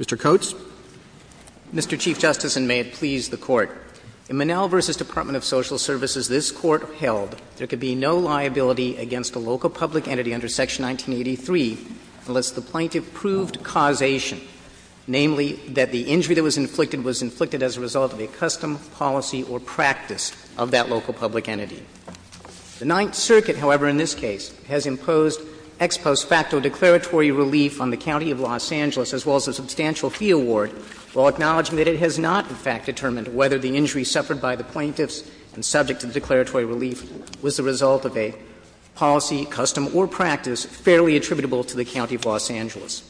Mr. Coates. Mr. Chief Justice, and may it please the Court, in Monell v. Department of Social Services, this Court held there could be no liability against a local public entity under Section 1983 unless the plaintiff proved causation, namely, that the injury that was inflicted was inflicted as a result of a custom, policy, or practice of that local public entity. The Ninth Circuit, however, in this case, has imposed ex post facto declaratory relief on the County of Los Angeles as well as a substantial fee award while acknowledging that it has not, in fact, determined whether the injury suffered by the plaintiffs and subject to the declaratory relief was the result of a policy, custom, or practice fairly attributable to the County of Los Angeles.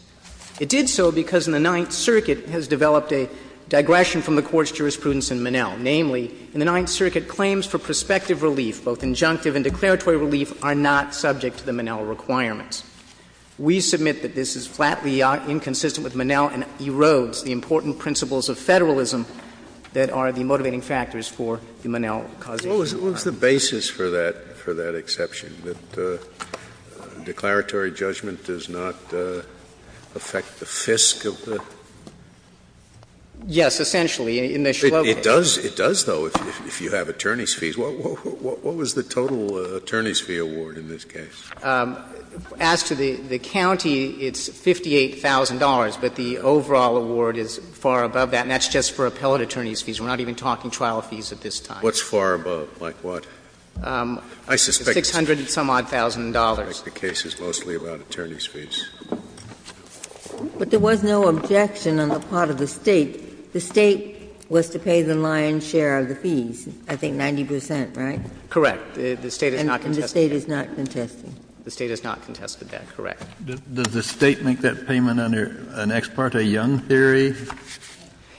It did so because in the Ninth Circuit has developed a digression from the Court's both injunctive and declaratory relief are not subject to the Monell requirements. We submit that this is flatly inconsistent with Monell and erodes the important principles of Federalism that are the motivating factors for the Monell causation liability. Scalia. Well, what's the basis for that, for that exception, that declaratory judgment does not affect the fisc of the? Mr. Coates. Yes, essentially, in the Shlomo case. It does, though, if you have attorney's fees. What was the total attorney's fee award in this case? As to the county, it's $58,000, but the overall award is far above that, and that's just for appellate attorney's fees. We're not even talking trial fees at this time. What's far above? Like what? $600-some-odd thousand dollars. I suspect the case is mostly about attorney's fees. But there was no objection on the part of the State. The State was to pay the lion's share of the fees, I think 90 percent, right? Correct. The State has not contested that. And the State is not contesting. The State has not contested that, correct. Does the State make that payment under an Ex parte Young theory?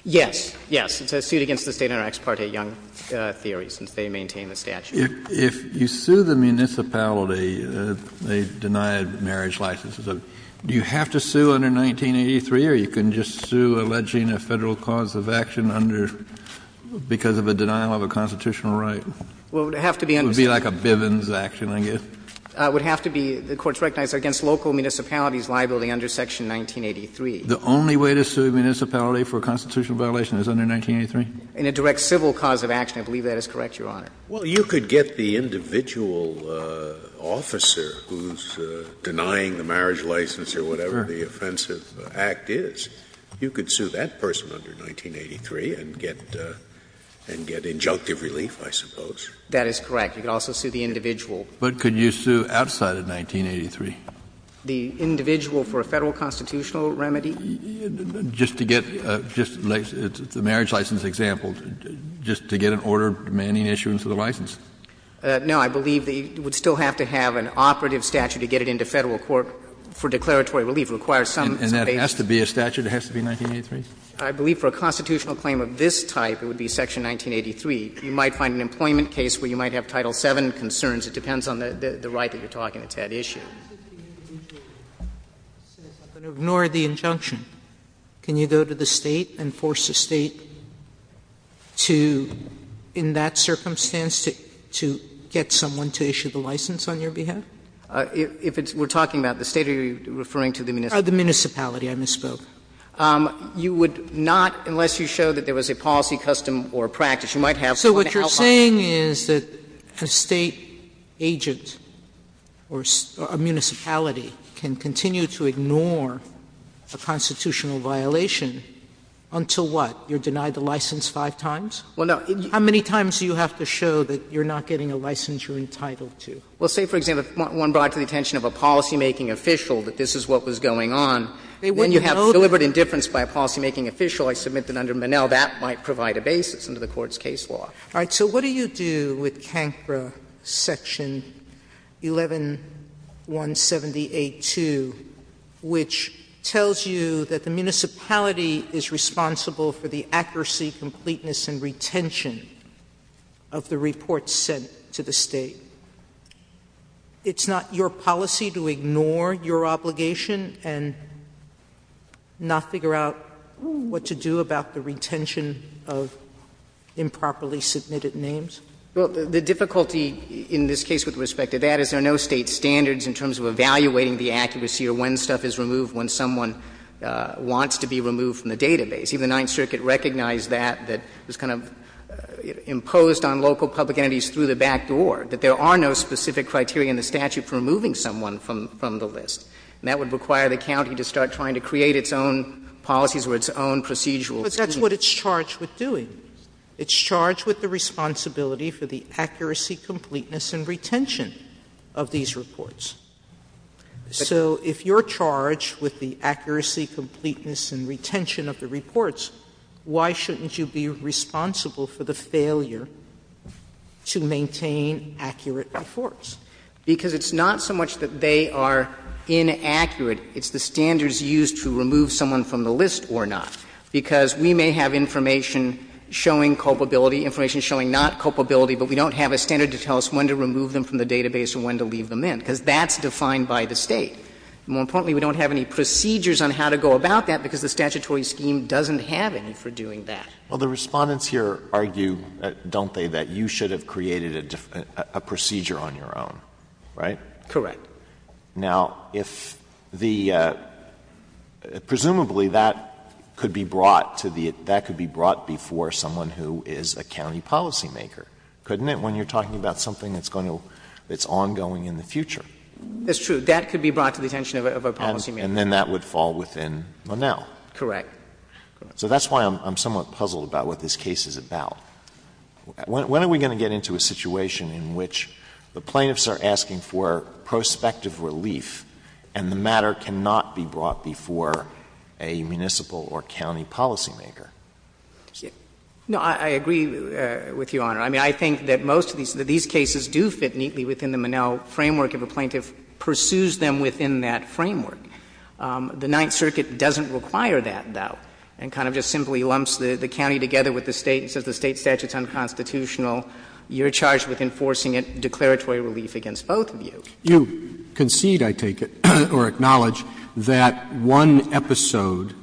Yes. Yes. It's a suit against the State under an Ex parte Young theory, since they maintain the statute. If you sue the municipality, they deny a marriage license. Do you have to sue under 1983, or you can just sue alleging a Federal cause of action under, because of a denial of a constitutional right? Well, it would have to be under 1983. It would be like a Bivens action, I guess. It would have to be the courts recognize against local municipalities' liability under section 1983. The only way to sue a municipality for a constitutional violation is under 1983? In a direct civil cause of action. I believe that is correct, Your Honor. Well, you could get the individual officer who is denying the marriage license or whatever the offensive act is. You could sue that person under 1983 and get injunctive relief, I suppose. That is correct. You could also sue the individual. But could you sue outside of 1983? The individual for a Federal constitutional remedy? Just to get the marriage license example. Just to get an order demanding issuance of the license. No. I believe that you would still have to have an operative statute to get it into Federal court for declaratory relief. It requires some basis. And that has to be a statute? It has to be 1983? I believe for a constitutional claim of this type, it would be section 1983. You might find an employment case where you might have Title VII concerns. It depends on the right that you are talking. It's that issue. If the individual says, I'm going to ignore the injunction, can you go to the State and force the State to, in that circumstance, to get someone to issue the license on your behalf? If it's we're talking about the State, are you referring to the municipality? The municipality, I misspoke. You would not, unless you show that there was a policy, custom or practice, you might have some help on that. Sotomayor, so what you're saying is that a State agent or a municipality can continue to ignore a constitutional violation until what? You're denied the license five times? How many times do you have to show that you're not getting a license you're entitled to? Well, say, for example, if one brought to the attention of a policymaking official that this is what was going on, then you have deliberate indifference by a policymaking official. I submit that under Monell, that might provide a basis under the Court's case law. All right. So what do you do with CANCRA Section 11178-2, which tells you that the municipality is responsible for the accuracy, completeness, and retention of the reports sent to the State? It's not your policy to ignore your obligation and not figure out what to do about the Well, the difficulty in this case with respect to that is there are no State standards in terms of evaluating the accuracy or when stuff is removed when someone wants to be removed from the database. Even the Ninth Circuit recognized that, that it was kind of imposed on local public entities through the back door, that there are no specific criteria in the statute for removing someone from the list. And that would require the county to start trying to create its own policies or its own procedural scheme. But that's what it's charged with doing. It's charged with the responsibility for the accuracy, completeness, and retention of these reports. So if you're charged with the accuracy, completeness, and retention of the reports, why shouldn't you be responsible for the failure to maintain accurate reports? Because it's not so much that they are inaccurate, it's the standards used to remove someone from the list or not, because we may have information showing culpability, information showing not culpability, but we don't have a standard to tell us when to remove them from the database or when to leave them in, because that's defined by the State. More importantly, we don't have any procedures on how to go about that because the statutory scheme doesn't have any for doing that. Well, the Respondents here argue, don't they, that you should have created a procedure on your own, right? Correct. Now, if the — presumably, that could be brought to the — that could be brought before someone who is a county policymaker, couldn't it, when you're talking about something that's going to — that's ongoing in the future? That's true. That could be brought to the attention of a policymaker. And then that would fall within Monell. Correct. So that's why I'm somewhat puzzled about what this case is about. When are we going to get into a situation in which the plaintiffs are asking for prospective relief and the matter cannot be brought before a municipal or county policymaker? No, I agree with you, Your Honor. I mean, I think that most of these cases do fit neatly within the Monell framework if a plaintiff pursues them within that framework. The Ninth Circuit doesn't require that, though, and kind of just simply lumps the state statutes unconstitutional. You're charged with enforcing a declaratory relief against both of you. You concede, I take it, or acknowledge that one episode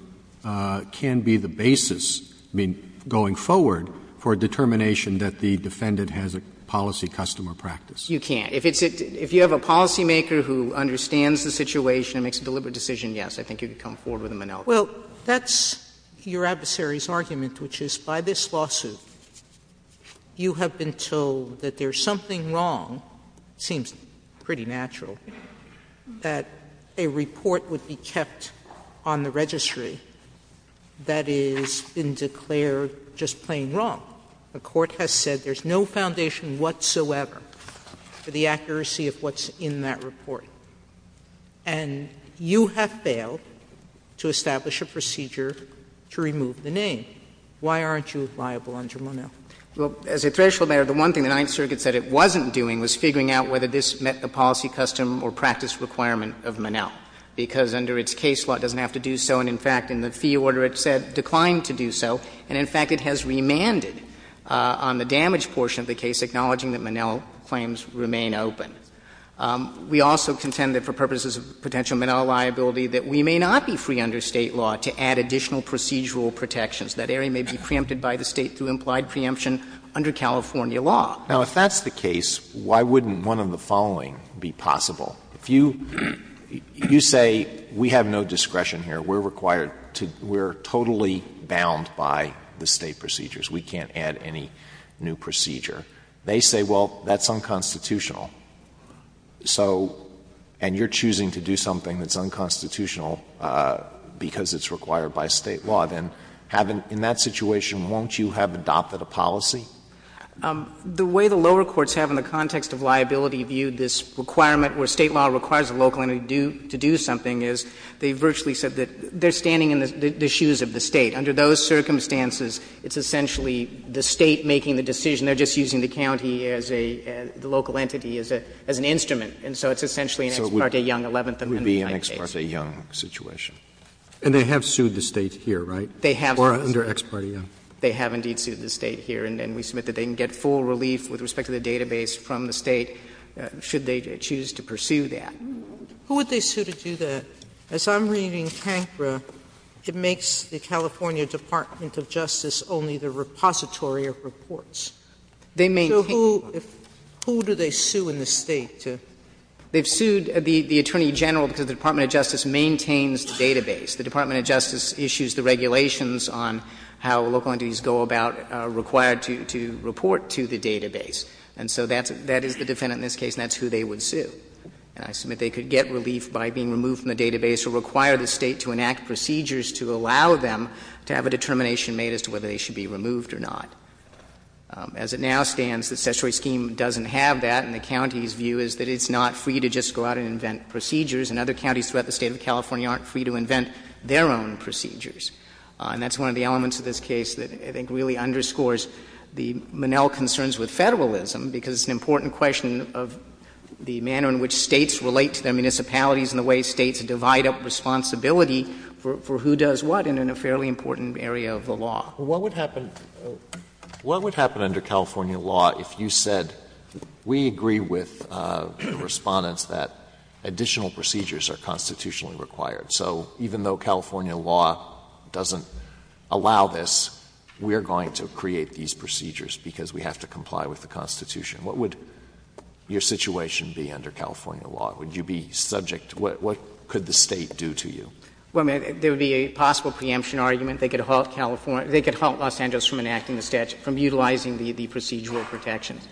can be the basis, I mean, going forward for a determination that the defendant has a policy customer practice. You can't. If it's a — if you have a policymaker who understands the situation and makes a deliberate Well, that's your adversary's argument, which is, by this lawsuit, you have been told that there's something wrong, seems pretty natural, that a report would be kept on the registry that has been declared just plain wrong. The Court has said there's no foundation whatsoever for the accuracy of what's in that procedure to remove the name. Why aren't you liable under Monell? Well, as a threshold matter, the one thing the Ninth Circuit said it wasn't doing was figuring out whether this met the policy, custom, or practice requirement of Monell, because under its case law it doesn't have to do so. And, in fact, in the fee order it said declined to do so. And, in fact, it has remanded on the damage portion of the case, acknowledging that Monell claims remain open. We also contend that for purposes of potential Monell liability, that we may not be free under State law to add additional procedural protections. That area may be preempted by the State through implied preemption under California law. Now, if that's the case, why wouldn't one of the following be possible? If you say, we have no discretion here, we're required to — we're totally bound by the State procedures, we can't add any new procedure, they say, well, that's unconstitutional, so — and you're choosing to do something that's unconstitutional because it's required by State law, then in that situation won't you have adopted a policy? The way the lower courts have in the context of liability viewed this requirement where State law requires a local entity to do something is they virtually said that they're standing in the shoes of the State. Under those circumstances, it's essentially the State making the decision. They're just using the county as a — the local entity as an instrument. And so it's essentially an Ex parte Young 11th Amendment. And that would be an Ex parte Young situation. And they have sued the State here, right? They have. Or under Ex parte Young. They have indeed sued the State here, and we submit that they can get full relief with respect to the database from the State should they choose to pursue that. Who would they sue to do that? As I'm reading Cancra, it makes the California Department of Justice only the repository of reports. They maintain — So who do they sue in the State to? They've sued the Attorney General because the Department of Justice maintains the database. The Department of Justice issues the regulations on how local entities go about required to report to the database. And so that's — that is the defendant in this case, and that's who they would sue. And I submit they could get relief by being removed from the database or require the State to enact procedures to allow them to have a determination made as to whether they should be removed or not. As it now stands, the Cessuary scheme doesn't have that, and the county's view is that it's not free to just go out and invent procedures, and other counties throughout the State of California aren't free to invent their own procedures. And that's one of the elements of this case that I think really underscores the Monell concerns with Federalism, because it's an important question of the manner in which States relate to their municipalities and the way States divide up responsibility for who does what in a fairly important area of the law. Alito, what would happen under California law if you said, we agree with the Respondents that additional procedures are constitutionally required, so even though California law doesn't allow this, we are going to create these procedures because we have to comply with the Constitution? What would your situation be under California law? Would you be subject to — what could the State do to you? Well, there would be a possible preemption argument. They could halt California — they could halt Los Angeles from enacting the statute, from utilizing the procedural protections.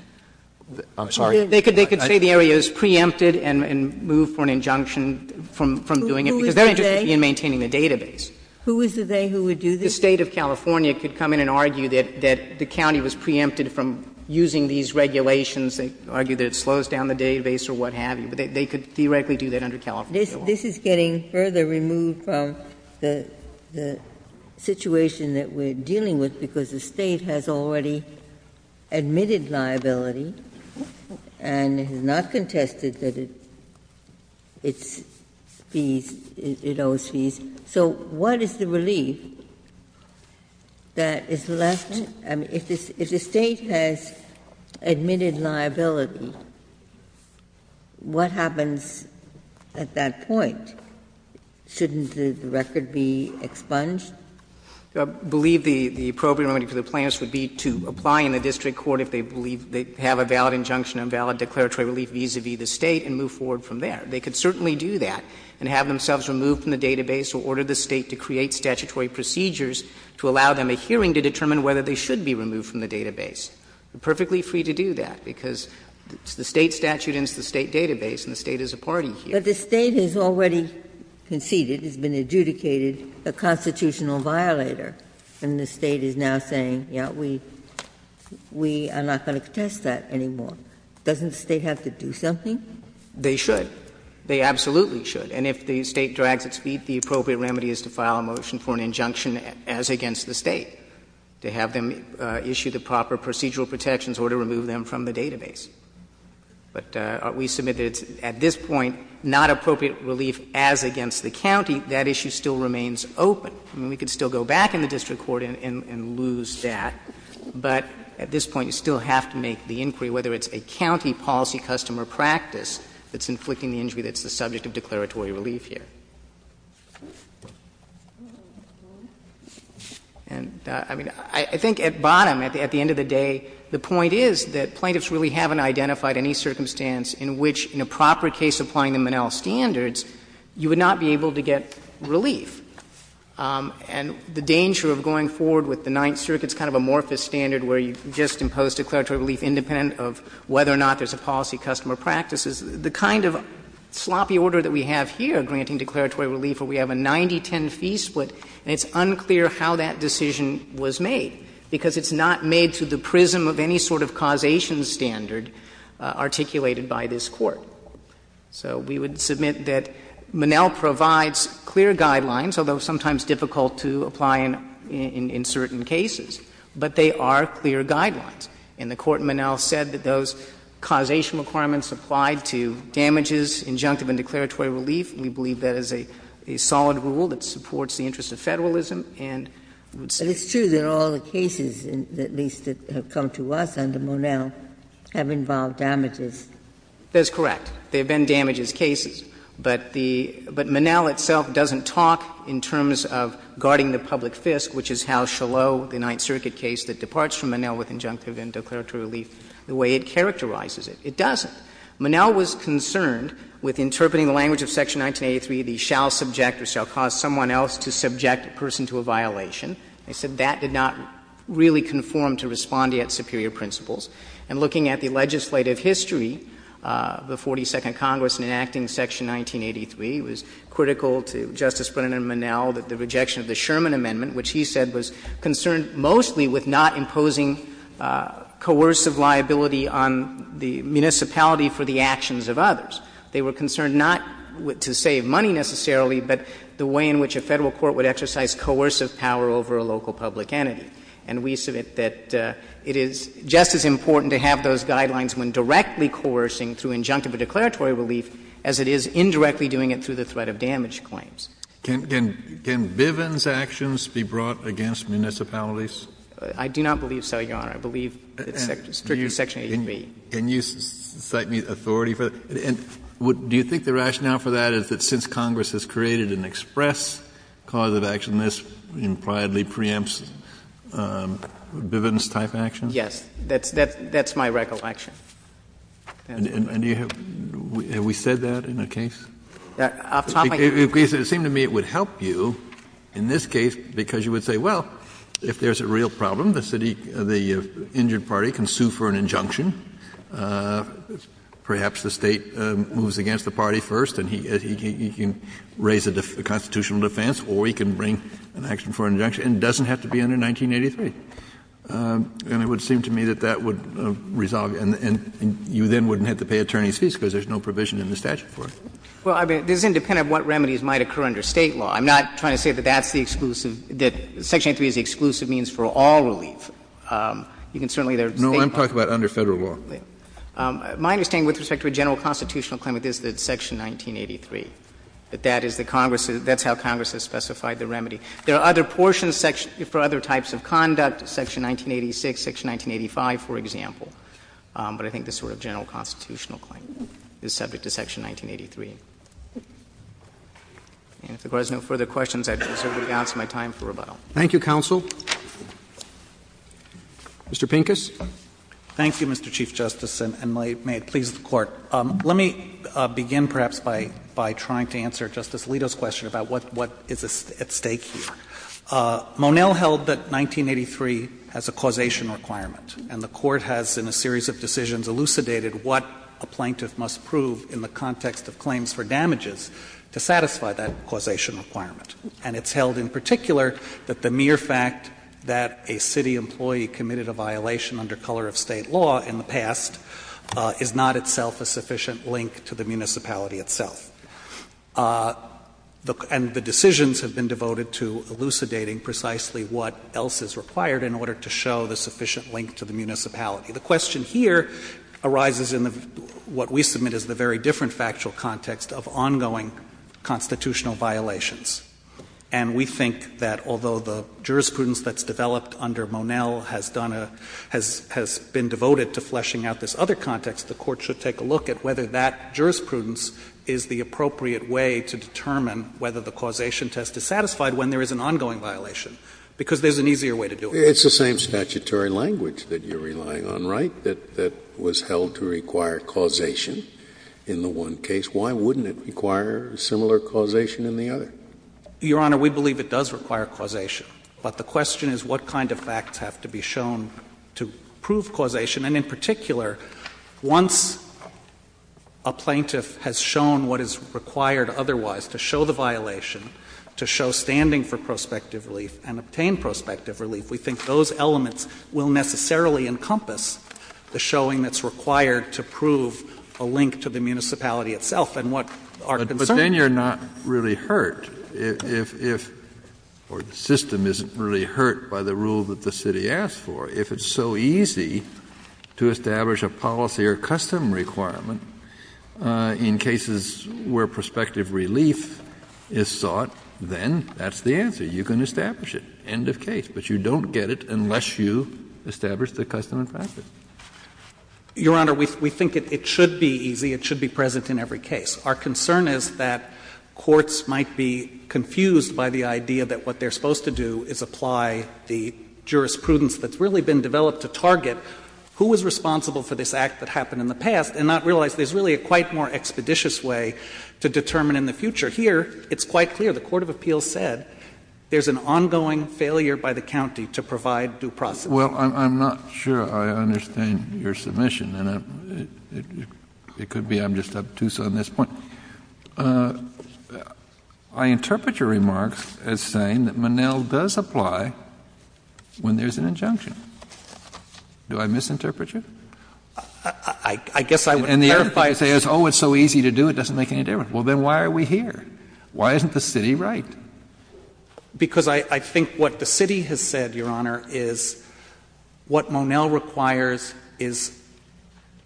I'm sorry? They could say the area is preempted and move for an injunction from doing it, because they're interested in maintaining the database. Who is the they who would do this? The State of California could come in and argue that the county was preempted from using these regulations, argue that it slows down the database or what have you. They could theoretically do that under California law. But this is getting further removed from the situation that we're dealing with, because the State has already admitted liability and has not contested that it owes fees. So what is the relief that is left — I mean, if the State has admitted liability, what happens at that point? Shouldn't the record be expunged? I believe the appropriate remedy for the plaintiffs would be to apply in the district court if they believe they have a valid injunction, a valid declaratory relief vis-a-vis the State, and move forward from there. They could certainly do that and have themselves removed from the database or order the State to create statutory procedures to allow them a hearing to determine whether they should be removed from the database. They're perfectly free to do that, because the State statute ends the State database and the State is a party here. Ginsburg. But the State has already conceded, has been adjudicated a constitutional violator, and the State is now saying, yes, we are not going to contest that anymore. Doesn't the State have to do something? They should. They absolutely should. And if the State drags its feet, the appropriate remedy is to file a motion for an injunction as against the State, to have them issue the proper procedural protections or to remove them from the database. But we submit that it's at this point not appropriate relief as against the county. That issue still remains open. I mean, we could still go back in the district court and lose that, but at this point you still have to make the inquiry, whether it's a county policy, custom, or practice that's inflicting the injury that's the subject of declaratory relief here. And, I mean, I think at bottom, at the end of the day, the point is that plaintiffs really haven't identified any circumstance in which, in a proper case applying the Monell standards, you would not be able to get relief. And the danger of going forward with the Ninth Circuit's kind of amorphous standard where you just impose declaratory relief independent of whether or not there's a policy, custom, or practice is the kind of sloppy order that we have here, granting injunctive and declaratory relief, where we have a 90-10 fee split, and it's unclear how that decision was made, because it's not made to the prism of any sort of causation standard articulated by this Court. So we would submit that Monell provides clear guidelines, although sometimes difficult to apply in certain cases, but they are clear guidelines. And the Court in Monell said that those causation requirements applied to damages, injunctive and declaratory relief, and we believe that is a solid rule that supports the interests of Federalism, and we would say that's true. Ginsburg. But it's true that all the cases, at least that have come to us under Monell, have involved damages. Verrilli, That's correct. There have been damages cases. But the — but Monell itself doesn't talk in terms of guarding the public fisc, which is how Shalot, the Ninth Circuit case that departs from Monell with injunctive and declaratory relief, the way it characterizes it. It doesn't. Monell was concerned with interpreting the language of Section 1983, the shall subject or shall cause someone else to subject a person to a violation. He said that did not really conform to respondeat superior principles. And looking at the legislative history, the 42nd Congress in enacting Section 1983, it was critical to Justice Brennan and Monell that the rejection of the Sherman Amendment, which he said was concerned mostly with not imposing coercive liability on the municipality for the actions of others. They were concerned not to save money necessarily, but the way in which a Federal court would exercise coercive power over a local public entity. And we submit that it is just as important to have those guidelines when directly coercing through injunctive or declaratory relief as it is indirectly doing it through the threat of damage claims. Can Bivens' actions be brought against municipalities? I do not believe so, Your Honor. I believe it's strictly Section 83. Kennedy, and you cite me authority for that? And do you think the rationale for that is that since Congress has created an express cause of action, this impliedly preempts Bivens' type action? Yes. That's my recollection. And do you have to do that? Have we said that in the case? It seemed to me it would help you in this case because you would say, well, if there's a real problem, the city, the injured party can sue for an injunction. Perhaps the State moves against the party first, and he can raise a constitutional defense, or he can bring an action for an injunction. And it doesn't have to be under 1983. And it would seem to me that that would resolve it. And you then wouldn't have to pay attorney's fees because there's no provision in the statute for it. Well, I mean, this is independent of what remedies might occur under State law. I'm not trying to say that that's the exclusive – that section 83 is the exclusive means for all relief. You can certainly there are State laws. No, I'm talking about under Federal law. My understanding with respect to a general constitutional claimant is that it's section 1983, that that is the Congress's – that's how Congress has specified the remedy. There are other portions for other types of conduct, section 1986, section 1985, for example. But I think the sort of general constitutional claimant is subject to section 1983. And if there are no further questions, I deserve to be able to answer my time for rebuttal. Roberts. Thank you, counsel. Mr. Pincus. Pincus. Thank you, Mr. Chief Justice, and may it please the Court. Let me begin perhaps by trying to answer Justice Alito's question about what is at stake here. Monell held that 1983 has a causation requirement, and the Court has, in a series of decisions, elucidated what a plaintiff must prove in the context of claims for damages to satisfy that causation requirement. And it's held in particular that the mere fact that a city employee committed a violation under color of State law in the past is not itself a sufficient link to the municipality itself. And the decisions have been devoted to elucidating precisely what else is required in order to show the sufficient link to the municipality. The question here arises in what we submit as the very different factual context of ongoing constitutional violations. And we think that although the jurisprudence that's developed under Monell has done a — has been devoted to fleshing out this other context, the Court should take a look at whether that jurisprudence is the appropriate way to determine whether the causation test is satisfied when there is an ongoing violation, because there's an easier way to do it. It's the same statutory language that you're relying on, right, that was held to require causation in the one case. Why wouldn't it require a similar causation in the other? Your Honor, we believe it does require causation. But the question is what kind of facts have to be shown to prove causation. And in particular, once a plaintiff has shown what is required otherwise to show the violation, to show standing for prospective relief and obtain prospective relief, if we think those elements will necessarily encompass the showing that's required to prove a link to the municipality itself and what our concerns are. But then you're not really hurt if — or the system isn't really hurt by the rule that the city asked for. If it's so easy to establish a policy or custom requirement in cases where prospective relief is sought, then that's the answer. You can establish it. End of case. But you don't get it unless you establish the custom and practice. Your Honor, we think it should be easy. It should be present in every case. Our concern is that courts might be confused by the idea that what they're supposed to do is apply the jurisprudence that's really been developed to target who is responsible for this act that happened in the past and not realize there's really a quite more expeditious way to determine in the future. Here, it's quite clear. The court of appeals said there's an ongoing failure by the county to provide due process. Kennedy. Well, I'm not sure I understand your submission, and it could be I'm just obtuse on this point. I interpret your remarks as saying that Monell does apply when there's an injunction. Do I misinterpret you? I guess I would clarify — And the other thing you say is, oh, it's so easy to do, it doesn't make any difference. Well, then why are we here? Why isn't the city right? Because I think what the city has said, Your Honor, is what Monell requires is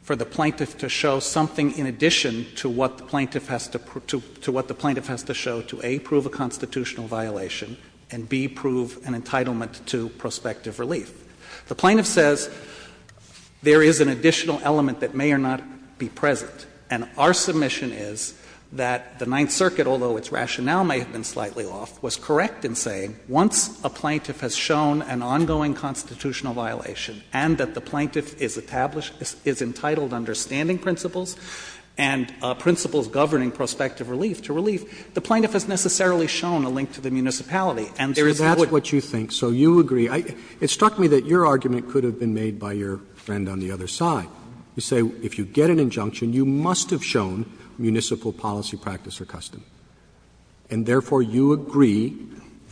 for the plaintiff to show something in addition to what the plaintiff has to show to, A, prove a constitutional violation, and, B, prove an entitlement to prospective relief. The plaintiff says there is an additional element that may or not be present, and our submission is that the Ninth Circuit, although its rationale may have been slightly off, was correct in saying once a plaintiff has shown an ongoing constitutional violation and that the plaintiff is entitled to understanding principles and principles governing prospective relief to relief, the plaintiff has necessarily shown a link to the municipality. And there is no other way to do it. But that's what you think, so you agree. It struck me that your argument could have been made by your friend on the other side. You say if you get an injunction, you must have shown municipal policy, practice, or custom. And, therefore, you agree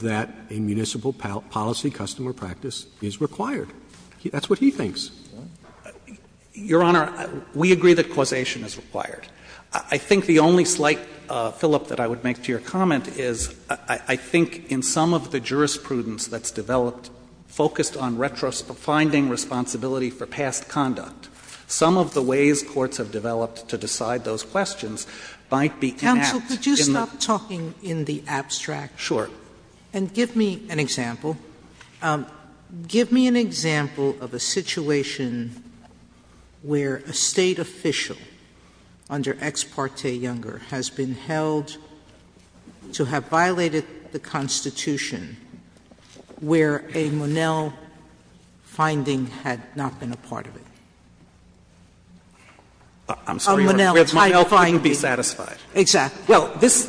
that a municipal policy, custom, or practice is required. That's what he thinks. Your Honor, we agree that causation is required. I think the only slight fill-up that I would make to your comment is I think in some of the jurisprudence that's developed, focused on finding responsibility for past conduct, some of the ways courts have developed to decide those questions might be in that. Sotomayor, could you stop talking in the abstract? Sure. And give me an example. Give me an example of a situation where a State official under Ex parte Younger has been held to have violated the Constitution, where a Monell finding had not been a part of it. I'm sorry, Your Honor. Monell couldn't be satisfied. Exactly. Well, this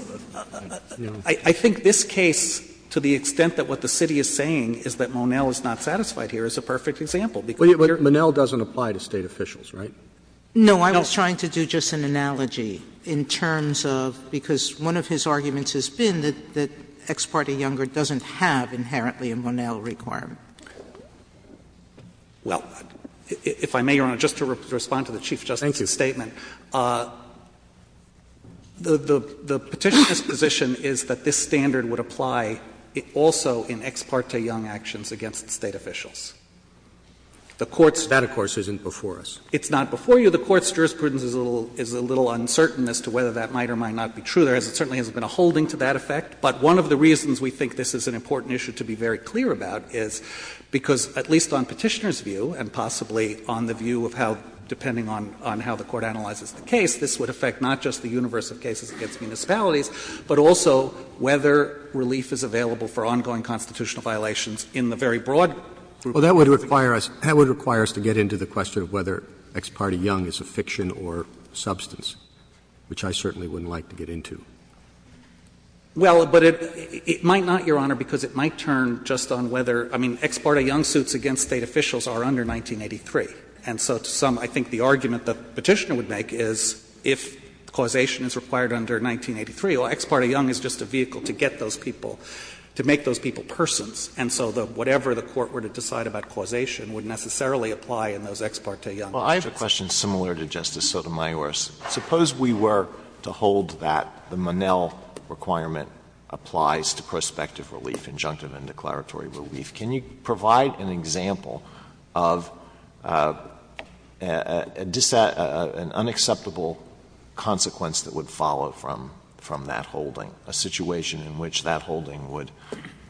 — I think this case, to the extent that what the city is saying is that Monell is not satisfied here, is a perfect example. But Monell doesn't apply to State officials, right? No. I was trying to do just an analogy in terms of — because one of his arguments has been that Ex parte Younger doesn't have inherently a Monell requirement. Well, if I may, Your Honor, just to respond to the Chief Justice's statement. Thank you. The Petitioner's position is that this standard would apply also in Ex parte Young actions against State officials. The Court's — That, of course, isn't before us. It's not before you. The Court's jurisprudence is a little uncertain as to whether that might or might not be true. There certainly hasn't been a holding to that effect. But one of the reasons we think this is an important issue to be very clear about is because, at least on Petitioner's view and possibly on the view of how, depending on how the Court analyzes the case, this would affect not just the universe of cases against municipalities, but also whether relief is available for ongoing constitutional violations in the very broad group of cases. Well, that would require us to get into the question of whether Ex parte Young is a fiction or substance, which I certainly wouldn't like to get into. Well, but it might not, Your Honor, because it might turn just on whether — I mean, Ex parte Young suits against State officials are under 1983. And so to some, I think the argument the Petitioner would make is if causation is required under 1983, well, Ex parte Young is just a vehicle to get those people — to make those people persons. And so whatever the Court were to decide about causation would necessarily apply in those Ex parte Young cases. Well, I have a question similar to Justice Sotomayor's. Suppose we were to hold that the Monell requirement applies to prospective relief, injunctive and declaratory relief. Can you provide an example of an unacceptable consequence that would follow from that holding, a situation in which that holding would,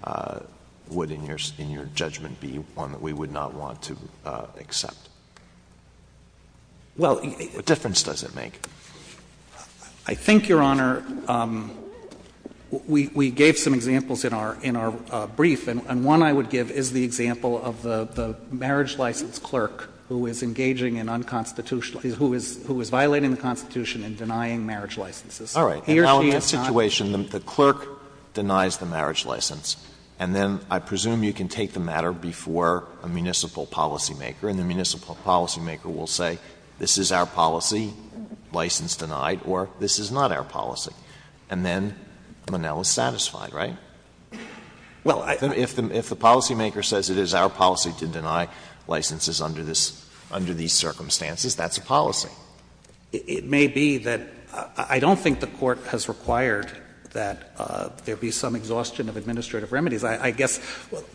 in your judgment, be one that we would not want to accept? Well, what difference does it make? I think, Your Honor, we gave some examples in our brief, and one I would give is the example of the marriage license clerk who is engaging in unconstitutional — who is violating the Constitution and denying marriage licenses. All right. Now, in that situation, the clerk denies the marriage license, and then I presume you can take the matter before a municipal policymaker, and the municipal policymaker will say, this is our policy, license denied, or this is not our policy, and then Monell is satisfied, right? Well, I think if the policymaker says it is our policy to deny licenses under this — under these circumstances, that's a policy. It may be that — I don't think the Court has required that there be some exhaustion of administrative remedies. I guess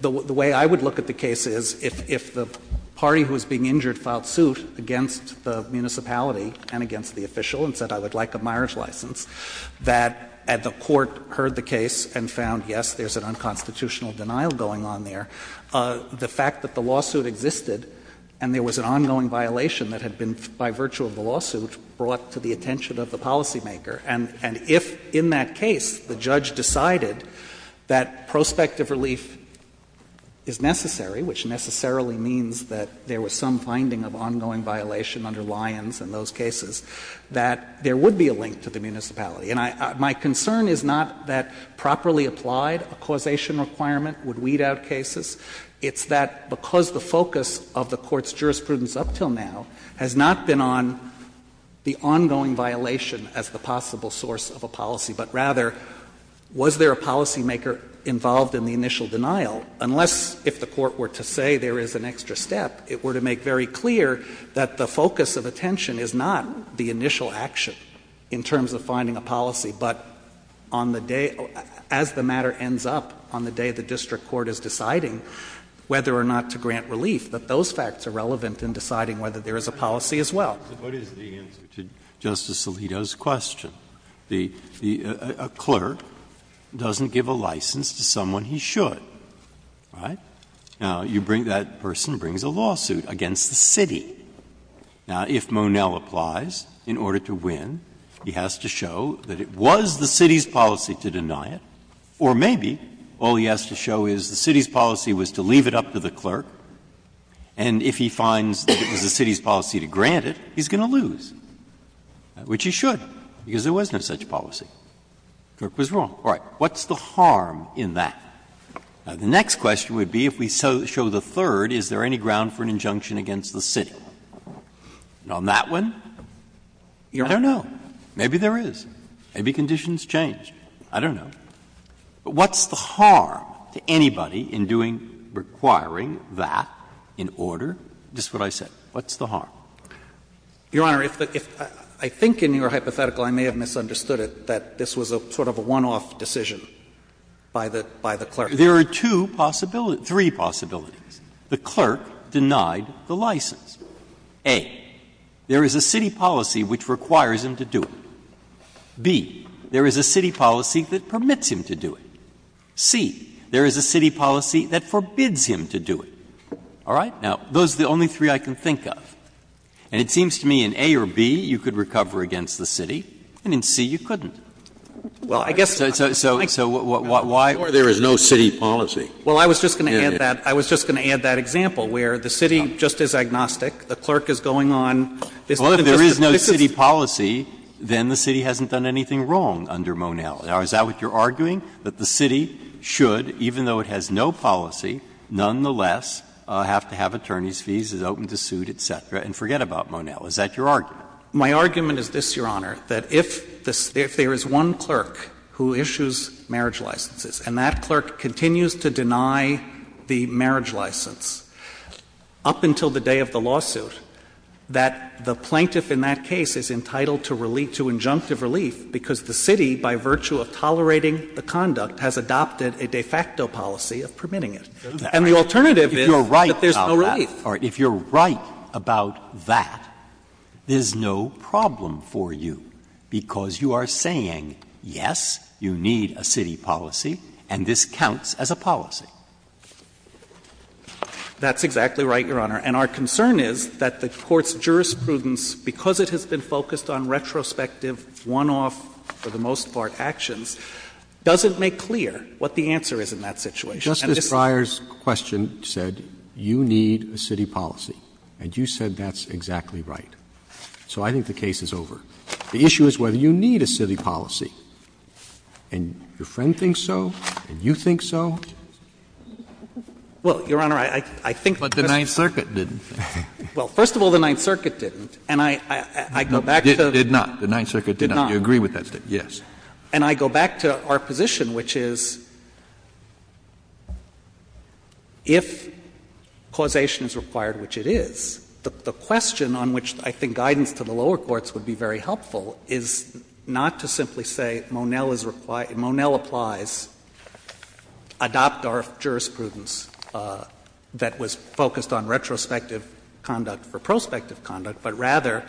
the way I would look at the case is, if the party who is being injured filed suit against the municipality and against the official and said, I would like a marriage license, that the Court heard the case and found, yes, there is an unconstitutional denial going on there, the fact that the lawsuit existed and there was an ongoing violation that had been, by virtue of the lawsuit, brought to the attention of the municipality, that if administrative relief is necessary, which necessarily means that there was some finding of ongoing violation under Lyons in those cases, that there would be a link to the municipality. And I — my concern is not that, properly applied, a causation requirement would weed out cases. It's that, because the focus of the Court's jurisprudence up until now has not been on the ongoing violation as the possible source of a policy, but rather, was there a policymaker involved in the initial denial, unless, if the Court were to say there is an extra step, it were to make very clear that the focus of attention is not the initial action in terms of finding a policy, but on the day — as the matter ends up on the day the district court is deciding whether or not to grant relief, that those facts are relevant in deciding whether there is a policy as well. Breyer. What is the answer to Justice Alito's question? The — a clerk doesn't give a license to someone he should, right? Now, you bring — that person brings a lawsuit against the city. Now, if Monell applies, in order to win, he has to show that it was the city's policy to deny it, or maybe all he has to show is the city's policy was to leave it up to the he's going to lose, which he should, because there was no such policy. The clerk was wrong. All right. What's the harm in that? Now, the next question would be, if we show the third, is there any ground for an injunction against the city? And on that one, I don't know. Maybe there is. Maybe conditions change. I don't know. But what's the harm to anybody in doing — requiring that in order? Just what I said. What's the harm? Your Honor, if the — I think in your hypothetical I may have misunderstood it, that this was a sort of a one-off decision by the — by the clerk. There are two possibilities — three possibilities. The clerk denied the license. A, there is a city policy which requires him to do it. B, there is a city policy that permits him to do it. C, there is a city policy that forbids him to do it. All right? Now, those are the only three I can think of. And it seems to me in A or B, you could recover against the city, and in C, you couldn't. So why — Scalia, there is no city policy. Well, I was just going to add that — I was just going to add that example, where the city just is agnostic. The clerk is going on — Well, if there is no city policy, then the city hasn't done anything wrong under Monell. Now, is that what you're arguing, that the city should, even though it has no policy, nonetheless have to have attorney's fees, is open to suit, et cetera, and forget about Monell? Is that your argument? My argument is this, Your Honor, that if there is one clerk who issues marriage licenses, and that clerk continues to deny the marriage license up until the day of the lawsuit, that the plaintiff in that case is entitled to injunctive relief, because the city, by virtue of tolerating the conduct, has adopted a de facto policy of permitting it. And the alternative is that there's no relief. If you're right about that, there's no problem for you, because you are saying, yes, you need a city policy, and this counts as a policy. That's exactly right, Your Honor. And our concern is that the Court's jurisprudence, because it has been focused on retrospective, one-off, for the most part, actions, doesn't make clear what the answer is in that situation. Justice Breyer's question said, you need a city policy, and you said that's exactly right. So I think the case is over. The issue is whether you need a city policy. And your friend thinks so, and you think so. Well, Your Honor, I think that the Ninth Circuit didn't. Well, first of all, the Ninth Circuit didn't, and I go back to the Ninth Circuit did not. You agree with that statement, yes. And I go back to our position, which is, if causation is required, which it is, the question on which I think guidance to the lower courts would be very helpful is not to simply say, Monell applies, adopt our jurisprudence that was focused on retrospective conduct for prospective conduct, but rather,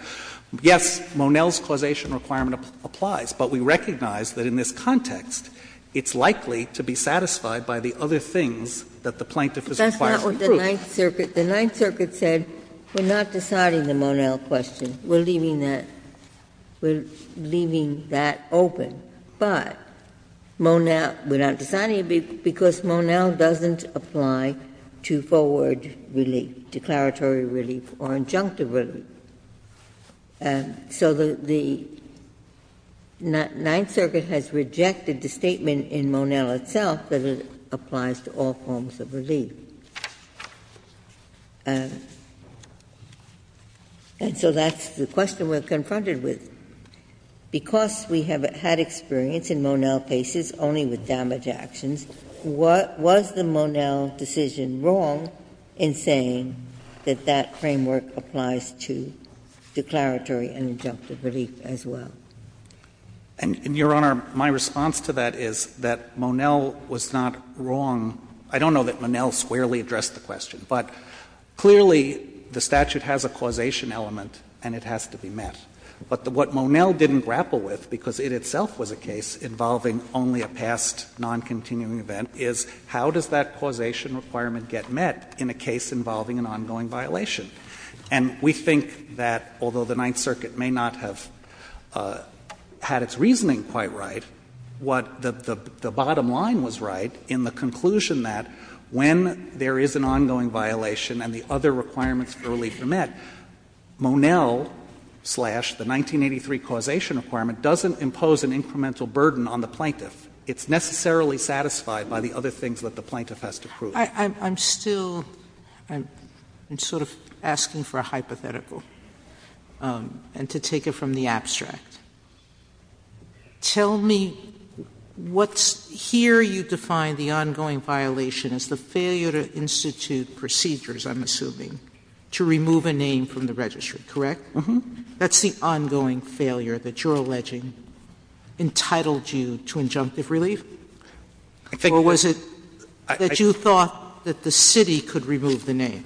yes, Monell's causation requirement applies. But we recognize that in this context, it's likely to be satisfied by the other things that the plaintiff is required to prove. Ginsburg. But that's not what the Ninth Circuit said. The Ninth Circuit said, we're not deciding the Monell question. We're leaving that open, but Monell, we're not deciding it because Monell doesn't apply to forward relief, declaratory relief, or injunctive relief. So the Ninth Circuit has rejected the statement in Monell itself that it applies to all forms of relief. And so that's the question we're confronted with. Because we have had experience in Monell cases only with damage actions, was the Monell decision wrong in saying that that framework applies to declaratory and injunctive relief as well? And, Your Honor, my response to that is that Monell was not wrong. I don't know that Monell squarely addressed the question, but clearly the statute has a causation element and it has to be met. But what Monell didn't grapple with, because it itself was a case involving only a past noncontinuing event, is how does that causation requirement get met in a case involving an ongoing violation? And we think that, although the Ninth Circuit may not have had its reasoning quite right, what the bottom line was right in the conclusion that when there is an ongoing violation and the other requirements for relief are met, Monell-slash- the 1983 causation requirement doesn't impose an incremental burden on the plaintiff. It's necessarily satisfied by the other things that the plaintiff has to prove. Sotomayor, I'm still sort of asking for a hypothetical, and to take it from the abstract. Tell me what's — here you define the ongoing violation as the failure-to-institute procedures, I'm assuming, to remove a name from the registry, correct? That's the ongoing failure that you're alleging entitled you to injunctive relief? Or was it that you thought that the city could remove the name?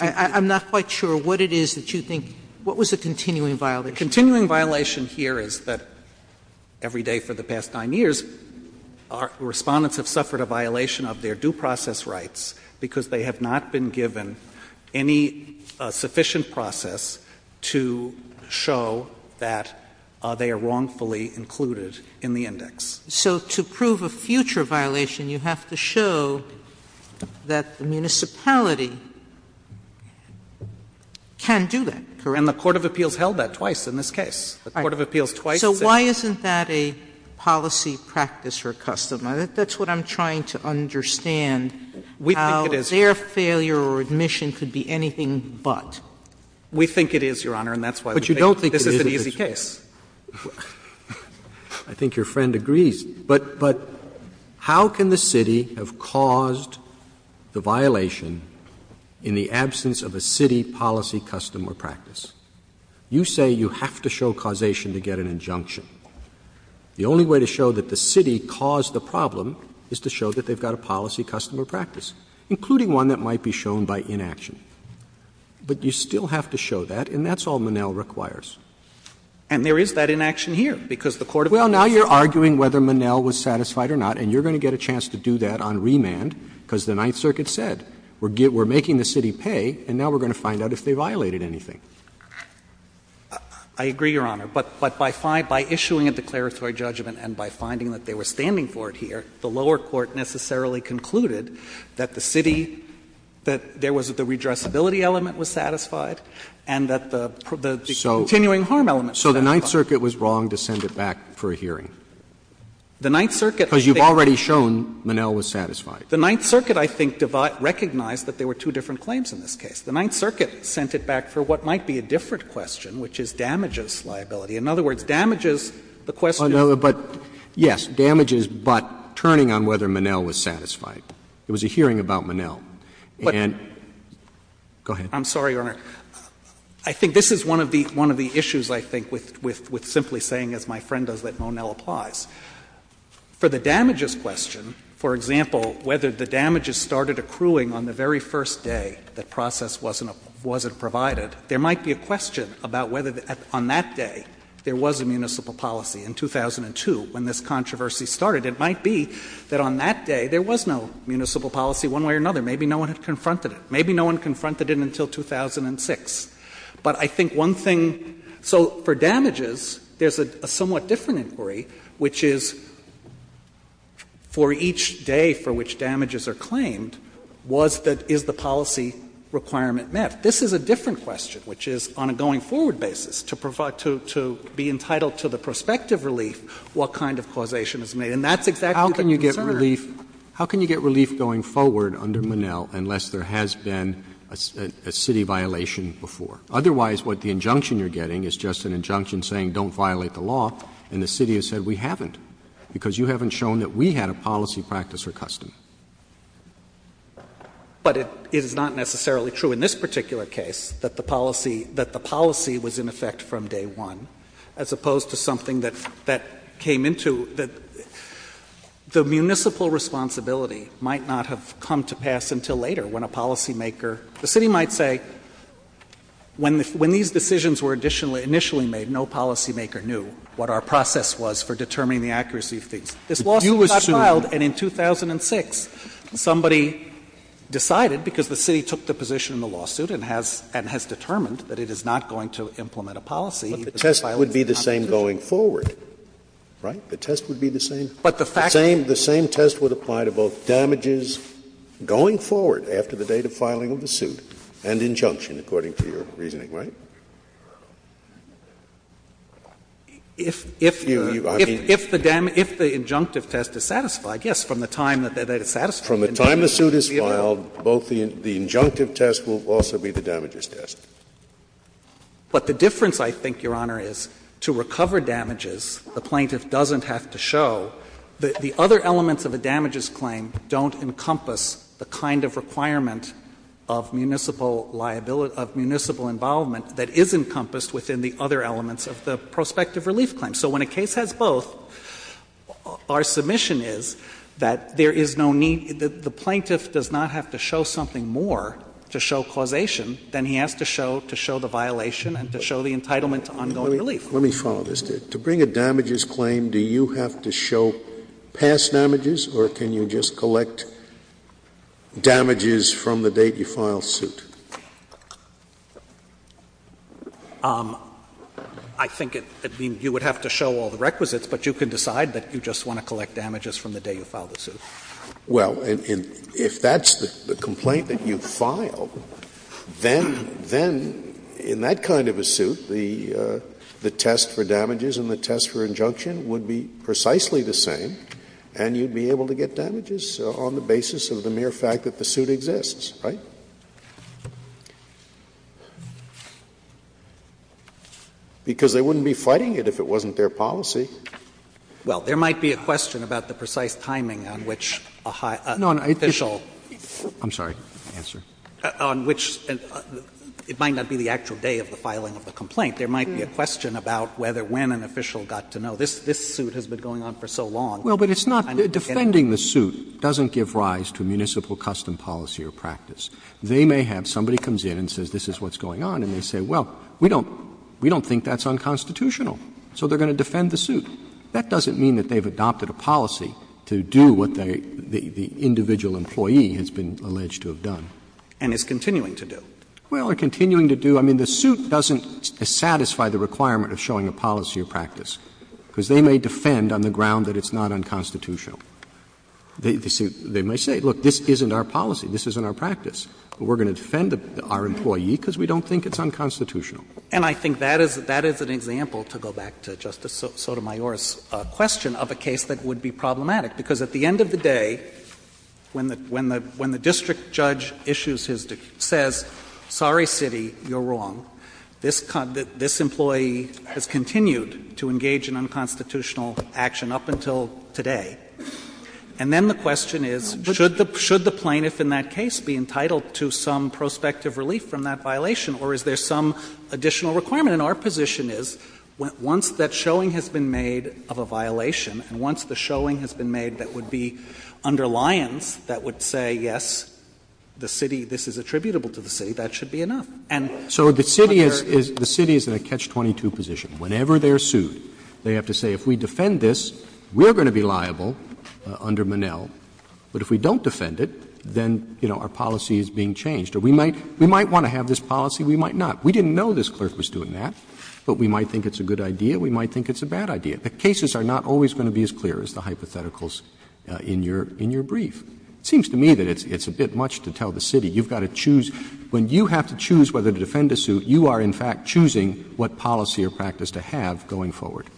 I'm not quite sure what it is that you think — what was the continuing violation? The continuing violation here is that every day for the past 9 years, Respondents have suffered a violation of their due process rights because they have not been given any sufficient process to show that they are wrongfully included in the index. So to prove a future violation, you have to show that the municipality can do that, correct? And the court of appeals held that twice in this case. The court of appeals twice said — So why isn't that a policy practice or a custom? That's what I'm trying to understand, how their failure or admission could be anything but. We think it is, Your Honor, and that's why we think this is an easy case. But you don't think it is an easy case. I think your friend agrees. But how can the city have caused the violation in the absence of a city policy, custom or practice? You say you have to show causation to get an injunction. The only way to show that the city caused the problem is to show that they have got a policy, custom, or practice, including one that might be shown by inaction. But you still have to show that, and that's all Monell requires. And there is that inaction here, because the court of appeals says that. Well, now you're arguing whether Monell was satisfied or not, and you're going to get a chance to do that on remand, because the Ninth Circuit said, we're making the city pay, and now we're going to find out if they violated anything. I agree, Your Honor. But by issuing a declaratory judgment and by finding that they were standing for it here, the lower court necessarily concluded that the city, that there was the redressability element was satisfied, and that the continuing harm element was satisfied. So the Ninth Circuit was wrong to send it back for a hearing? The Ninth Circuit, I think. Because you've already shown Monell was satisfied. The Ninth Circuit, I think, recognized that there were two different claims in this case. The Ninth Circuit sent it back for what might be a different question, which is damages liability. In other words, damages, the question of whether Monell was satisfied, there was a hearing about Monell, and go ahead. I'm sorry, Your Honor, I think this is one of the issues, I think, with simply saying, as my friend does, that Monell applies. For the damages question, for example, whether the damages started accruing on the very first day the process wasn't provided, there might be a question about whether, on that day, there was a municipal policy. In 2002, when this controversy started, it might be that on that day there was no municipal policy one way or another. Maybe no one had confronted it. Maybe no one confronted it until 2006. But I think one thing — so for damages, there's a somewhat different inquiry, which is, for each day for which damages are claimed, was that, is the policy requirement met? This is a different question, which is, on a going-forward basis, to be entitled to the prospective relief, what kind of causation is made, and that's exactly the concern. Roberts How can you get relief going forward under Monell unless there has been a city violation before? Otherwise, what the injunction you're getting is just an injunction saying don't violate the law, and the city has said, we haven't, because you haven't shown that we had a policy, practice, or custom. But it is not necessarily true in this particular case that the policy — that the policy was in effect from day one, as opposed to something that came into — that the municipal responsibility might not have come to pass until later, when a policymaker — the city might say, when these decisions were initially made, no policymaker knew what our process was for determining the accuracy of things. This lawsuit got filed, and in 2006, somebody decided, because the city took the position in the lawsuit and has determined that it is not going to implement a policy, that it violates the constitution. Scalia But the test would be the same going forward, right? The test would be the same? Roberts But the fact is that the same test would apply to both damages going forward after the date of filing of the suit and injunction, according to your reasoning, right? If the — if the injunctive test is satisfied, yes, from the time that it's satisfied. Scalia From the time the suit is filed, both the injunctive test will also be the damages test. Roberts But the difference, I think, Your Honor, is to recover damages, the plaintiff doesn't have to show that the other elements of a damages claim don't encompass the kind of requirement of municipal liability — of municipal involvement that is encompassed within the other elements of the prospective relief claim. So when a case has both, our submission is that there is no need — the plaintiff does not have to show something more to show causation than he has to show to show the violation and to show the entitlement to ongoing relief. Scalia Let me follow this. To bring a damages claim, do you have to show past damages, or can you just collect damages from the date you file suit? Roberts I think it — I mean, you would have to show all the requisites, but you can decide that you just want to collect damages from the day you file the suit. Scalia Well, and if that's the complaint that you file, then — then in that kind of a suit, the test for damages and the test for injunction would be precisely the same, and you'd be able to get damages on the basis of the mere fact that the suit exists, right? Because they wouldn't be fighting it if it wasn't their policy. Roberts Well, there might be a question about the precise timing on which a high — an official — Verrilli, I'm sorry, answer. Verrilli, I'm sorry, answer. Roberts On which — it might not be the actual day of the filing of the complaint. There might be a question about whether when an official got to know this suit has been going on for so long. Roberts Well, but it's not — defending the suit doesn't give rise to municipal custom policy or practice. They may have — somebody comes in and says this is what's going on, and they say, well, we don't think that's unconstitutional, so they're going to defend the suit. That doesn't mean that they've adopted a policy to do what the individual employee has been alleged to have done. And is continuing to do. Roberts Well, or continuing to do — I mean, the suit doesn't satisfy the requirement of showing a policy or practice, because they may defend on the ground that it's not unconstitutional. They may say, look, this isn't our policy, this isn't our practice, but we're going to defend our employee because we don't think it's unconstitutional. Verrilli, I'm sorry, answer. Roberts And I think that is an example, to go back to Justice Sotomayor's question, of a case that would be problematic. Because at the end of the day, when the district judge issues his — says, sorry, city, you're wrong, this employee has continued to engage in unconstitutional action up until today. And then the question is, should the plaintiff in that case be entitled to some prospective relief from that violation, or is there some additional requirement? And our position is, once that showing has been made of a violation, and once the violation has been made, that would be under Lyons, that would say, yes, the city — this is attributable to the city, that should be enough. And under — Roberts So the city is in a catch-22 position. Whenever they are sued, they have to say, if we defend this, we are going to be liable under Minnell. But if we don't defend it, then, you know, our policy is being changed. Or we might want to have this policy, we might not. We didn't know this clerk was doing that, but we might think it's a good idea, we might think it's a bad idea. The cases are not always going to be as clear as the hypotheticals in your brief. It seems to me that it's a bit much to tell the city, you've got to choose. When you have to choose whether to defend a suit, you are in fact choosing what policy or practice to have going forward.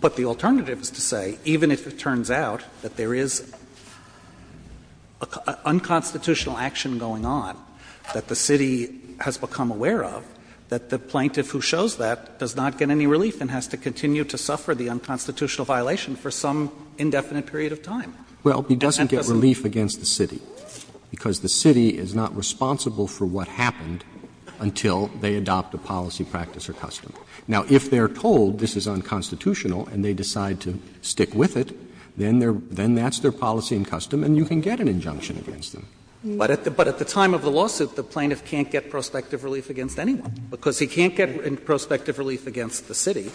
But the alternative is to say, even if it turns out that there is unconstitutional action going on that the city has become aware of, that the plaintiff who shows that does not get any relief and has to continue to suffer the unconstitutional violation for some indefinite period of time. Roberts. Well, he doesn't get relief against the city, because the city is not responsible for what happened until they adopt a policy, practice, or custom. Now, if they are told this is unconstitutional and they decide to stick with it, then they are — then that's their policy and custom and you can get an injunction against them. But at the time of the lawsuit, the plaintiff can't get prospective relief against anyone. Because he can't get prospective relief against the city.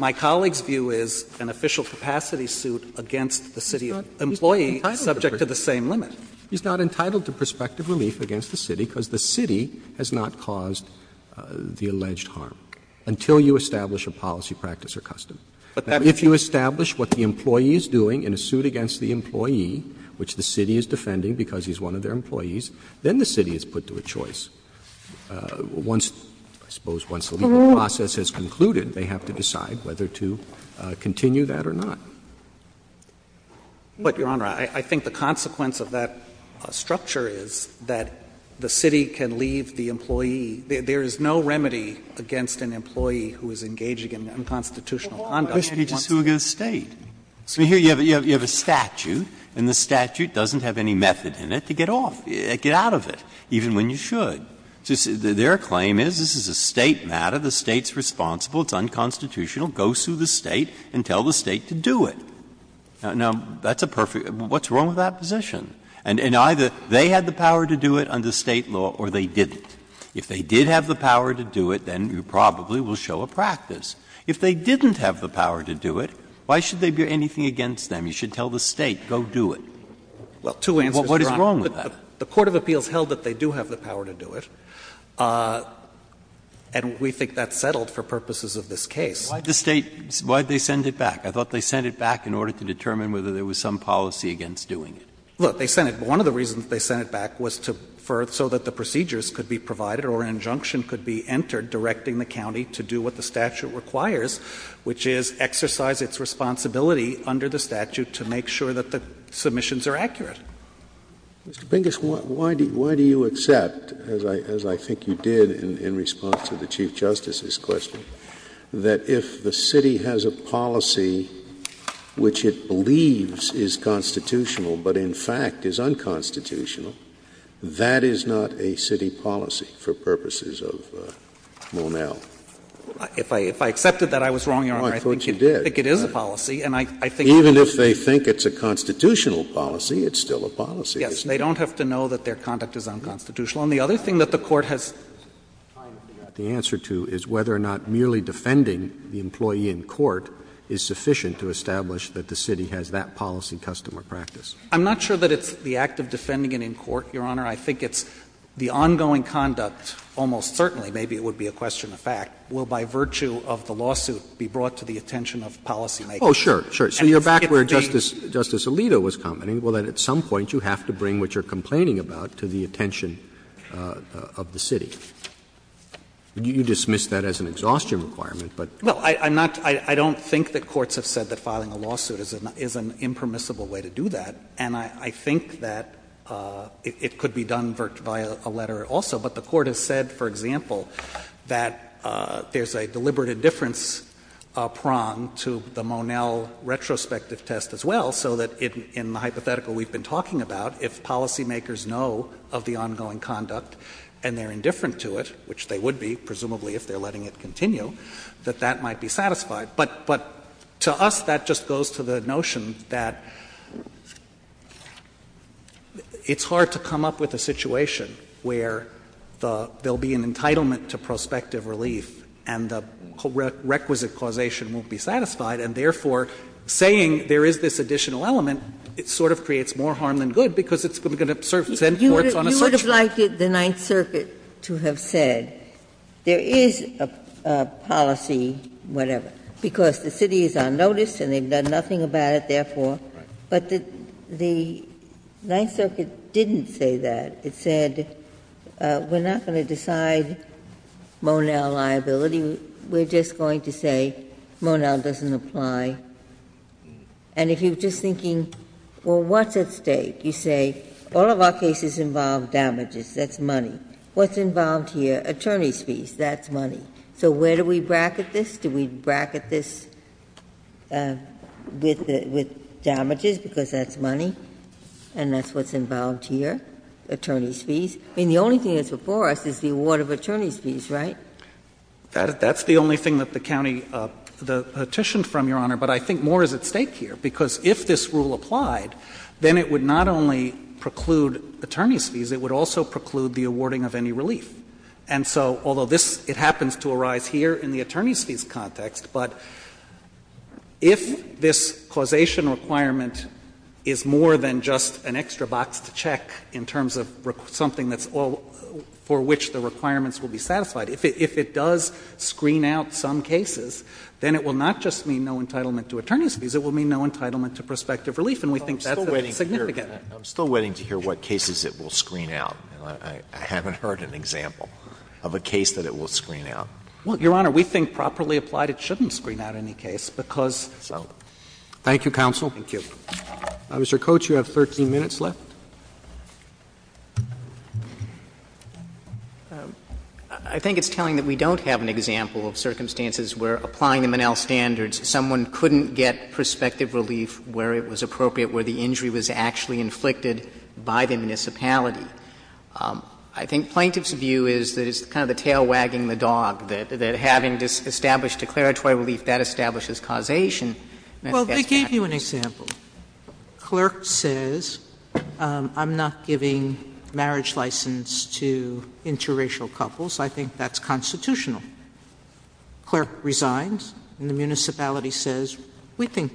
My colleague's view is an official capacity suit against the city employee is subject to the same limit. He's not entitled to prospective relief against the city because the city has not caused the alleged harm until you establish a policy, practice, or custom. If you establish what the employee is doing in a suit against the employee, which the city is defending because he's one of their employees, then the city is put to a choice. Once — I suppose once the legal process has concluded, they have to decide whether to continue that or not. But, Your Honor, I think the consequence of that structure is that the city can leave the employee — there is no remedy against an employee who is engaging in unconstitutional conduct. But why can't he just do it against the State? I mean, here you have a statute and the statute doesn't have any method in it to get off, get out of it, even when you should. Their claim is, this is a State matter, the State's responsible, it's unconstitutional, go sue the State and tell the State to do it. Now, that's a perfect — what's wrong with that position? And either they had the power to do it under State law or they didn't. If they did have the power to do it, then you probably will show a practice. If they didn't have the power to do it, why should there be anything against them? You should tell the State, go do it. What is wrong with that? The court of appeals held that they do have the power to do it, and we think that's settled for purposes of this case. Breyer, why did the State — why did they send it back? I thought they sent it back in order to determine whether there was some policy against doing it. Look, they sent it — one of the reasons they sent it back was to — so that the procedures could be provided or an injunction could be entered directing the county to do what the statute requires, which is exercise its responsibility under the statute to make sure that the submissions are accurate. Mr. Pingus, why do you accept, as I think you did in response to the Chief Justice's question, that if the City has a policy which it believes is constitutional but in fact is unconstitutional, that is not a City policy for purposes of Monell? If I accepted that, I was wrong, Your Honor. I think it is a policy. Even if they think it's a constitutional policy, it's still a policy. Yes, they don't have to know that their conduct is unconstitutional. And the other thing that the Court has time to get the answer to is whether or not merely defending the employee in court is sufficient to establish that the City has that policy, custom, or practice. I'm not sure that it's the act of defending it in court, Your Honor. I think it's the ongoing conduct, almost certainly, maybe it would be a question of fact, will, by virtue of the lawsuit, be brought to the attention of policymakers. Oh, sure, sure. So you're back where Justice — Justice Alito was commenting. Well, then, at some point, you have to bring what you're complaining about to the attention of the City. You dismiss that as an exhaustion requirement, but — Well, I'm not — I don't think that courts have said that filing a lawsuit is an impermissible way to do that. And I think that it could be done via a letter also, but the Court has said, for example, that there's a deliberative difference prong to the Monell retrospective test as well, so that in the hypothetical we've been talking about, if policymakers know of the ongoing conduct and they're indifferent to it, which they would be, presumably, if they're letting it continue, that that might be satisfied. But to us, that just goes to the notion that it's hard to come up with a situation where there will be an entitlement to prospective relief and the requisite causation won't be satisfied, and therefore, saying there is this additional element, it sort of creates more harm than good, because it's going to send courts on a search. You would have liked the Ninth Circuit to have said, there is a policy, whatever, because the City is on notice and they've done nothing about it, therefore. But the Ninth Circuit didn't say that. It said, we're not going to decide Monell liability, we're just going to say Monell doesn't apply. And if you're just thinking, well, what's at stake? You say, all of our cases involve damages, that's money. What's involved here? Attorney's fees, that's money. So where do we bracket this? Do we bracket this with damages, because that's money, and that's what's involved here, attorney's fees? I mean, the only thing that's before us is the award of attorney's fees, right? That's the only thing that the county petitioned from, Your Honor. But I think more is at stake here, because if this rule applied, then it would not only preclude attorney's fees, it would also preclude the awarding of any relief. And so, although this happens to arise here in the attorney's fees context, but if this causation requirement is more than just an extra box to check in terms of something that's all for which the requirements will be satisfied, if it does screen out some cases, then it will not just mean no entitlement to attorney's fees, it will mean no entitlement to prospective relief. And we think that's significant. I'm still waiting to hear what cases it will screen out, and I haven't heard an example of a case that it will screen out. Well, Your Honor, we think properly applied, it shouldn't screen out any case, because — Thank you, counsel. Thank you. Mr. Coates, you have 13 minutes left. I think it's telling that we don't have an example of circumstances where, applying the Monell standards, someone couldn't get prospective relief where it was appropriate, where the injury was actually inflicted by the municipality. I think Plaintiff's view is that it's kind of the tail wagging the dog, that having established declaratory relief, that establishes causation. And I think that's not true. Let me give you an example. Clerk says, I'm not giving marriage license to interracial couples. I think that's constitutional. Clerk resigns, and the municipality says, we think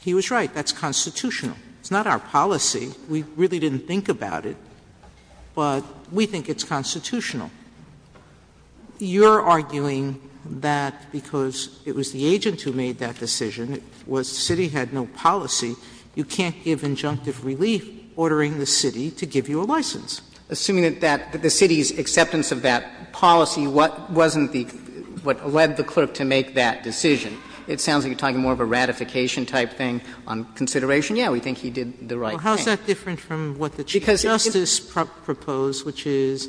he was right. That's constitutional. It's not our policy. We really didn't think about it, but we think it's constitutional. Sotomayor, you're arguing that because it was the agent who made that decision, it was the city had no policy, you can't give injunctive relief ordering the city to give you a license. Assuming that the city's acceptance of that policy wasn't what led the clerk to make that decision. It sounds like you're talking more of a ratification type thing on consideration. Yes, we think he did the right thing. Well, how is that different from what the Chief Justice proposed, which is,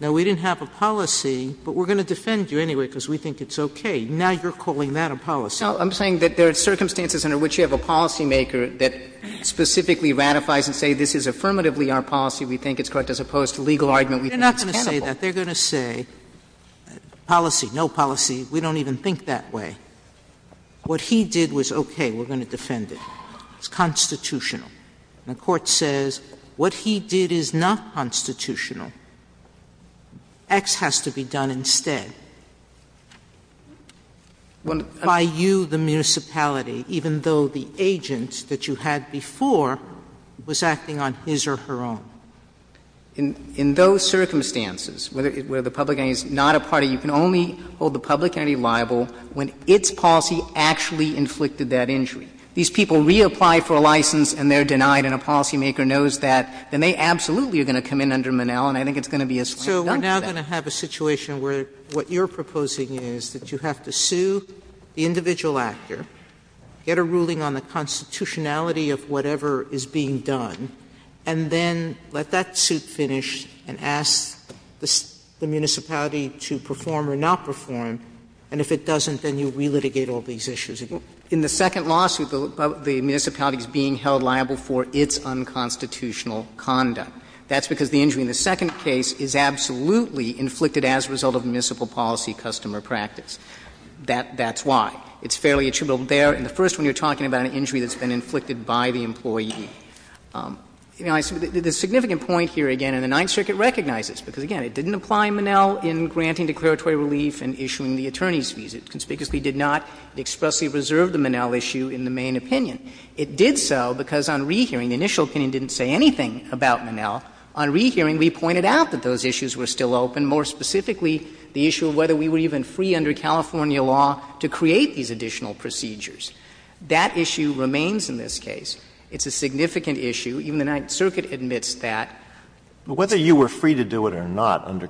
no, we didn't have a policy, but we're going to defend you anyway because we think it's okay. Now you're calling that a policy. No, I'm saying that there are circumstances under which you have a policymaker that specifically ratifies and says, this is affirmatively our policy, we think it's correct, as opposed to legal argument, we think it's cannibal. They're not going to say that. They're going to say policy, no policy. We don't even think that way. What he did was okay. We're going to defend it. It's constitutional. The Court says what he did is not constitutional. X has to be done instead. By you, the municipality, even though the agent that you had before was acting on his or her own. In those circumstances, where the public entity is not a party, you can only hold the public entity liable when its policy actually inflicted that injury. These people reapply for a license and they're denied and a policymaker knows that, then they absolutely are going to come in under Monell, and I think it's going to be a slant down to that. Sotomayor So we're now going to have a situation where what you're proposing is that you have to sue the individual actor, get a ruling on the constitutionality of whatever is being done, and then let that suit finish and ask the municipality to perform or not perform, and if it doesn't, then you relitigate all these issues again. In the second lawsuit, the municipality is being held liable for its unconstitutional conduct. That's because the injury in the second case is absolutely inflicted as a result of municipal policy customer practice. That's why. It's fairly attributable there. In the first one, you're talking about an injury that's been inflicted by the employee. The significant point here, again, and the Ninth Circuit recognizes, because, again, it didn't apply Monell in granting declaratory relief and issuing the attorney's order, it did not expressly reserve the Monell issue in the main opinion. It did so because on rehearing, the initial opinion didn't say anything about Monell. On rehearing, we pointed out that those issues were still open, more specifically the issue of whether we were even free under California law to create these additional procedures. That issue remains in this case. It's a significant issue. Even the Ninth Circuit admits that. Alitoso Whether you were free to do it or not under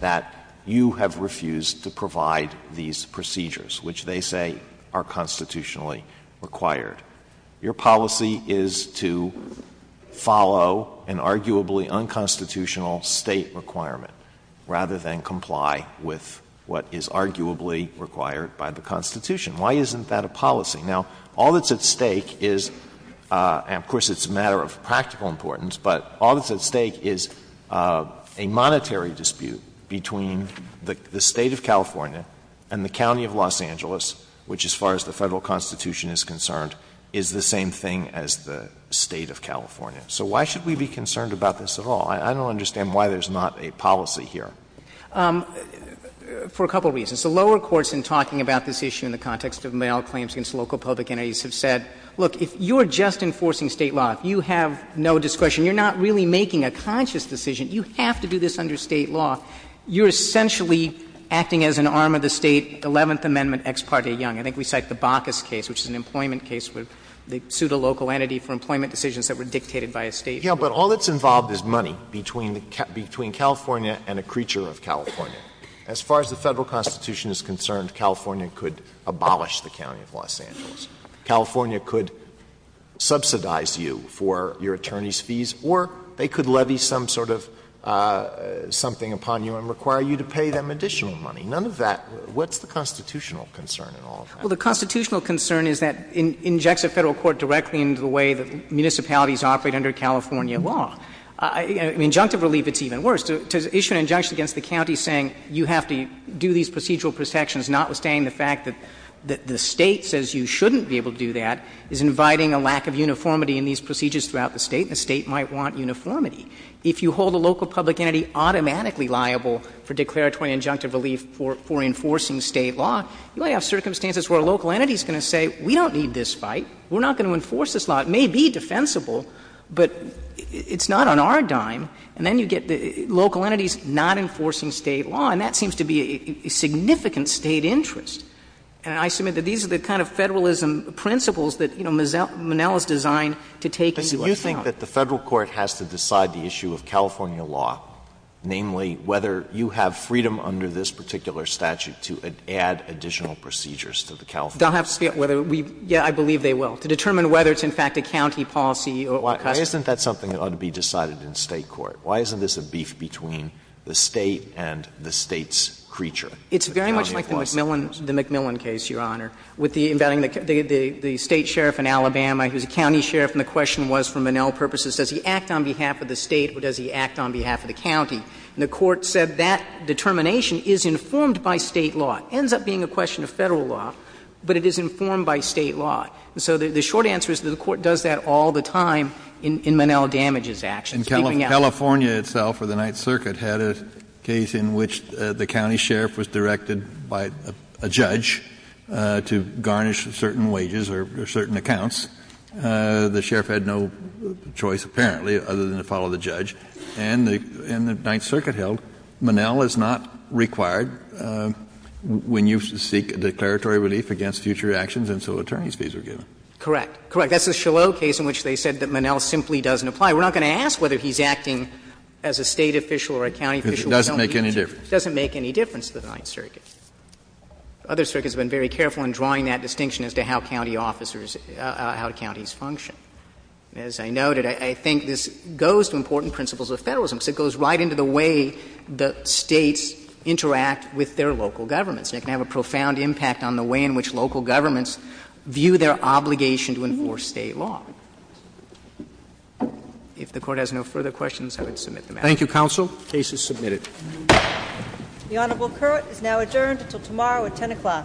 that, you have refused to provide these procedures, which they say are constitutionally required. Your policy is to follow an arguably unconstitutional State requirement, rather than comply with what is arguably required by the Constitution. Why isn't that a policy? Now, all that's at stake is — and of course, it's a matter of practical importance but all that's at stake is a monetary dispute between the State of California and the County of Los Angeles, which as far as the Federal Constitution is concerned, is the same thing as the State of California. So why should we be concerned about this at all? I don't understand why there's not a policy here. For a couple of reasons. The lower courts in talking about this issue in the context of Monell claims against local public entities have said, look, if you're just enforcing State law, if you have no discretion, you're not really making a conscious decision. You have to do this under State law. You're essentially acting as an arm of the State, Eleventh Amendment, Ex parte Young. I think we cite the Bacchus case, which is an employment case where they sued a local entity for employment decisions that were dictated by a State court. Alitoso Yeah, but all that's involved is money between the — between California and a creature of California. As far as the Federal Constitution is concerned, California could abolish the County of Los Angeles. California could subsidize you for your attorney's fees, or they could levy some sort of something upon you and require you to pay them additional money. None of that. What's the constitutional concern in all of that? Well, the constitutional concern is that it injects a Federal court directly into the way that municipalities operate under California law. Injunctive relief, it's even worse. To issue an injunction against the county saying you have to do these procedural protections, notwithstanding the fact that the State says you shouldn't be able to do that, is inviting a lack of uniformity in these procedures throughout the State, and the State might want uniformity. If you hold a local public entity automatically liable for declaratory injunctive relief for enforcing State law, you only have circumstances where a local entity is going to say, we don't need this fight, we're not going to enforce this law. It may be defensible, but it's not on our dime. And then you get local entities not enforcing State law, and that seems to be a significant State interest. And I submit that these are the kind of Federalism principles that, you know, Monell is designed to take into account. Alito, you think that the Federal court has to decide the issue of California law, namely whether you have freedom under this particular statute to add additional procedures to the California law? They'll have to see whether we – yeah, I believe they will, to determine whether it's in fact a county policy or custom. Why isn't that something that ought to be decided in State court? Why isn't this a beef between the State and the State's creature? It's very much like the McMillan case, Your Honor, with the – the State sheriff in Alabama who's a county sheriff, and the question was, for Monell purposes, does he act on behalf of the State or does he act on behalf of the county? And the court said that determination is informed by State law. It ends up being a question of Federal law, but it is informed by State law. And so the short answer is that the court does that all the time in Monell damages actions. Kennedy, in California itself, or the Ninth Circuit, had a case in which the county sheriff was directed by a judge to garnish certain wages or certain accounts. The sheriff had no choice, apparently, other than to follow the judge. And the Ninth Circuit held Monell is not required when you seek a declaratory relief against future actions, and so attorney's fees are given. Correct. Correct. That's the Shillow case in which they said that Monell simply doesn't apply. We're not going to ask whether he's acting as a State official or a county official. It doesn't make any difference. It doesn't make any difference to the Ninth Circuit. Other circuits have been very careful in drawing that distinction as to how county officers or how counties function. As I noted, I think this goes to important principles of Federalism because it goes right into the way the States interact with their local governments, and it can have a profound impact on the way in which local governments view their obligation to enforce State law. If the Court has no further questions, I would submit the matter. Thank you, counsel. The case is submitted. The Honorable Curt is now adjourned until tomorrow at 10 o'clock.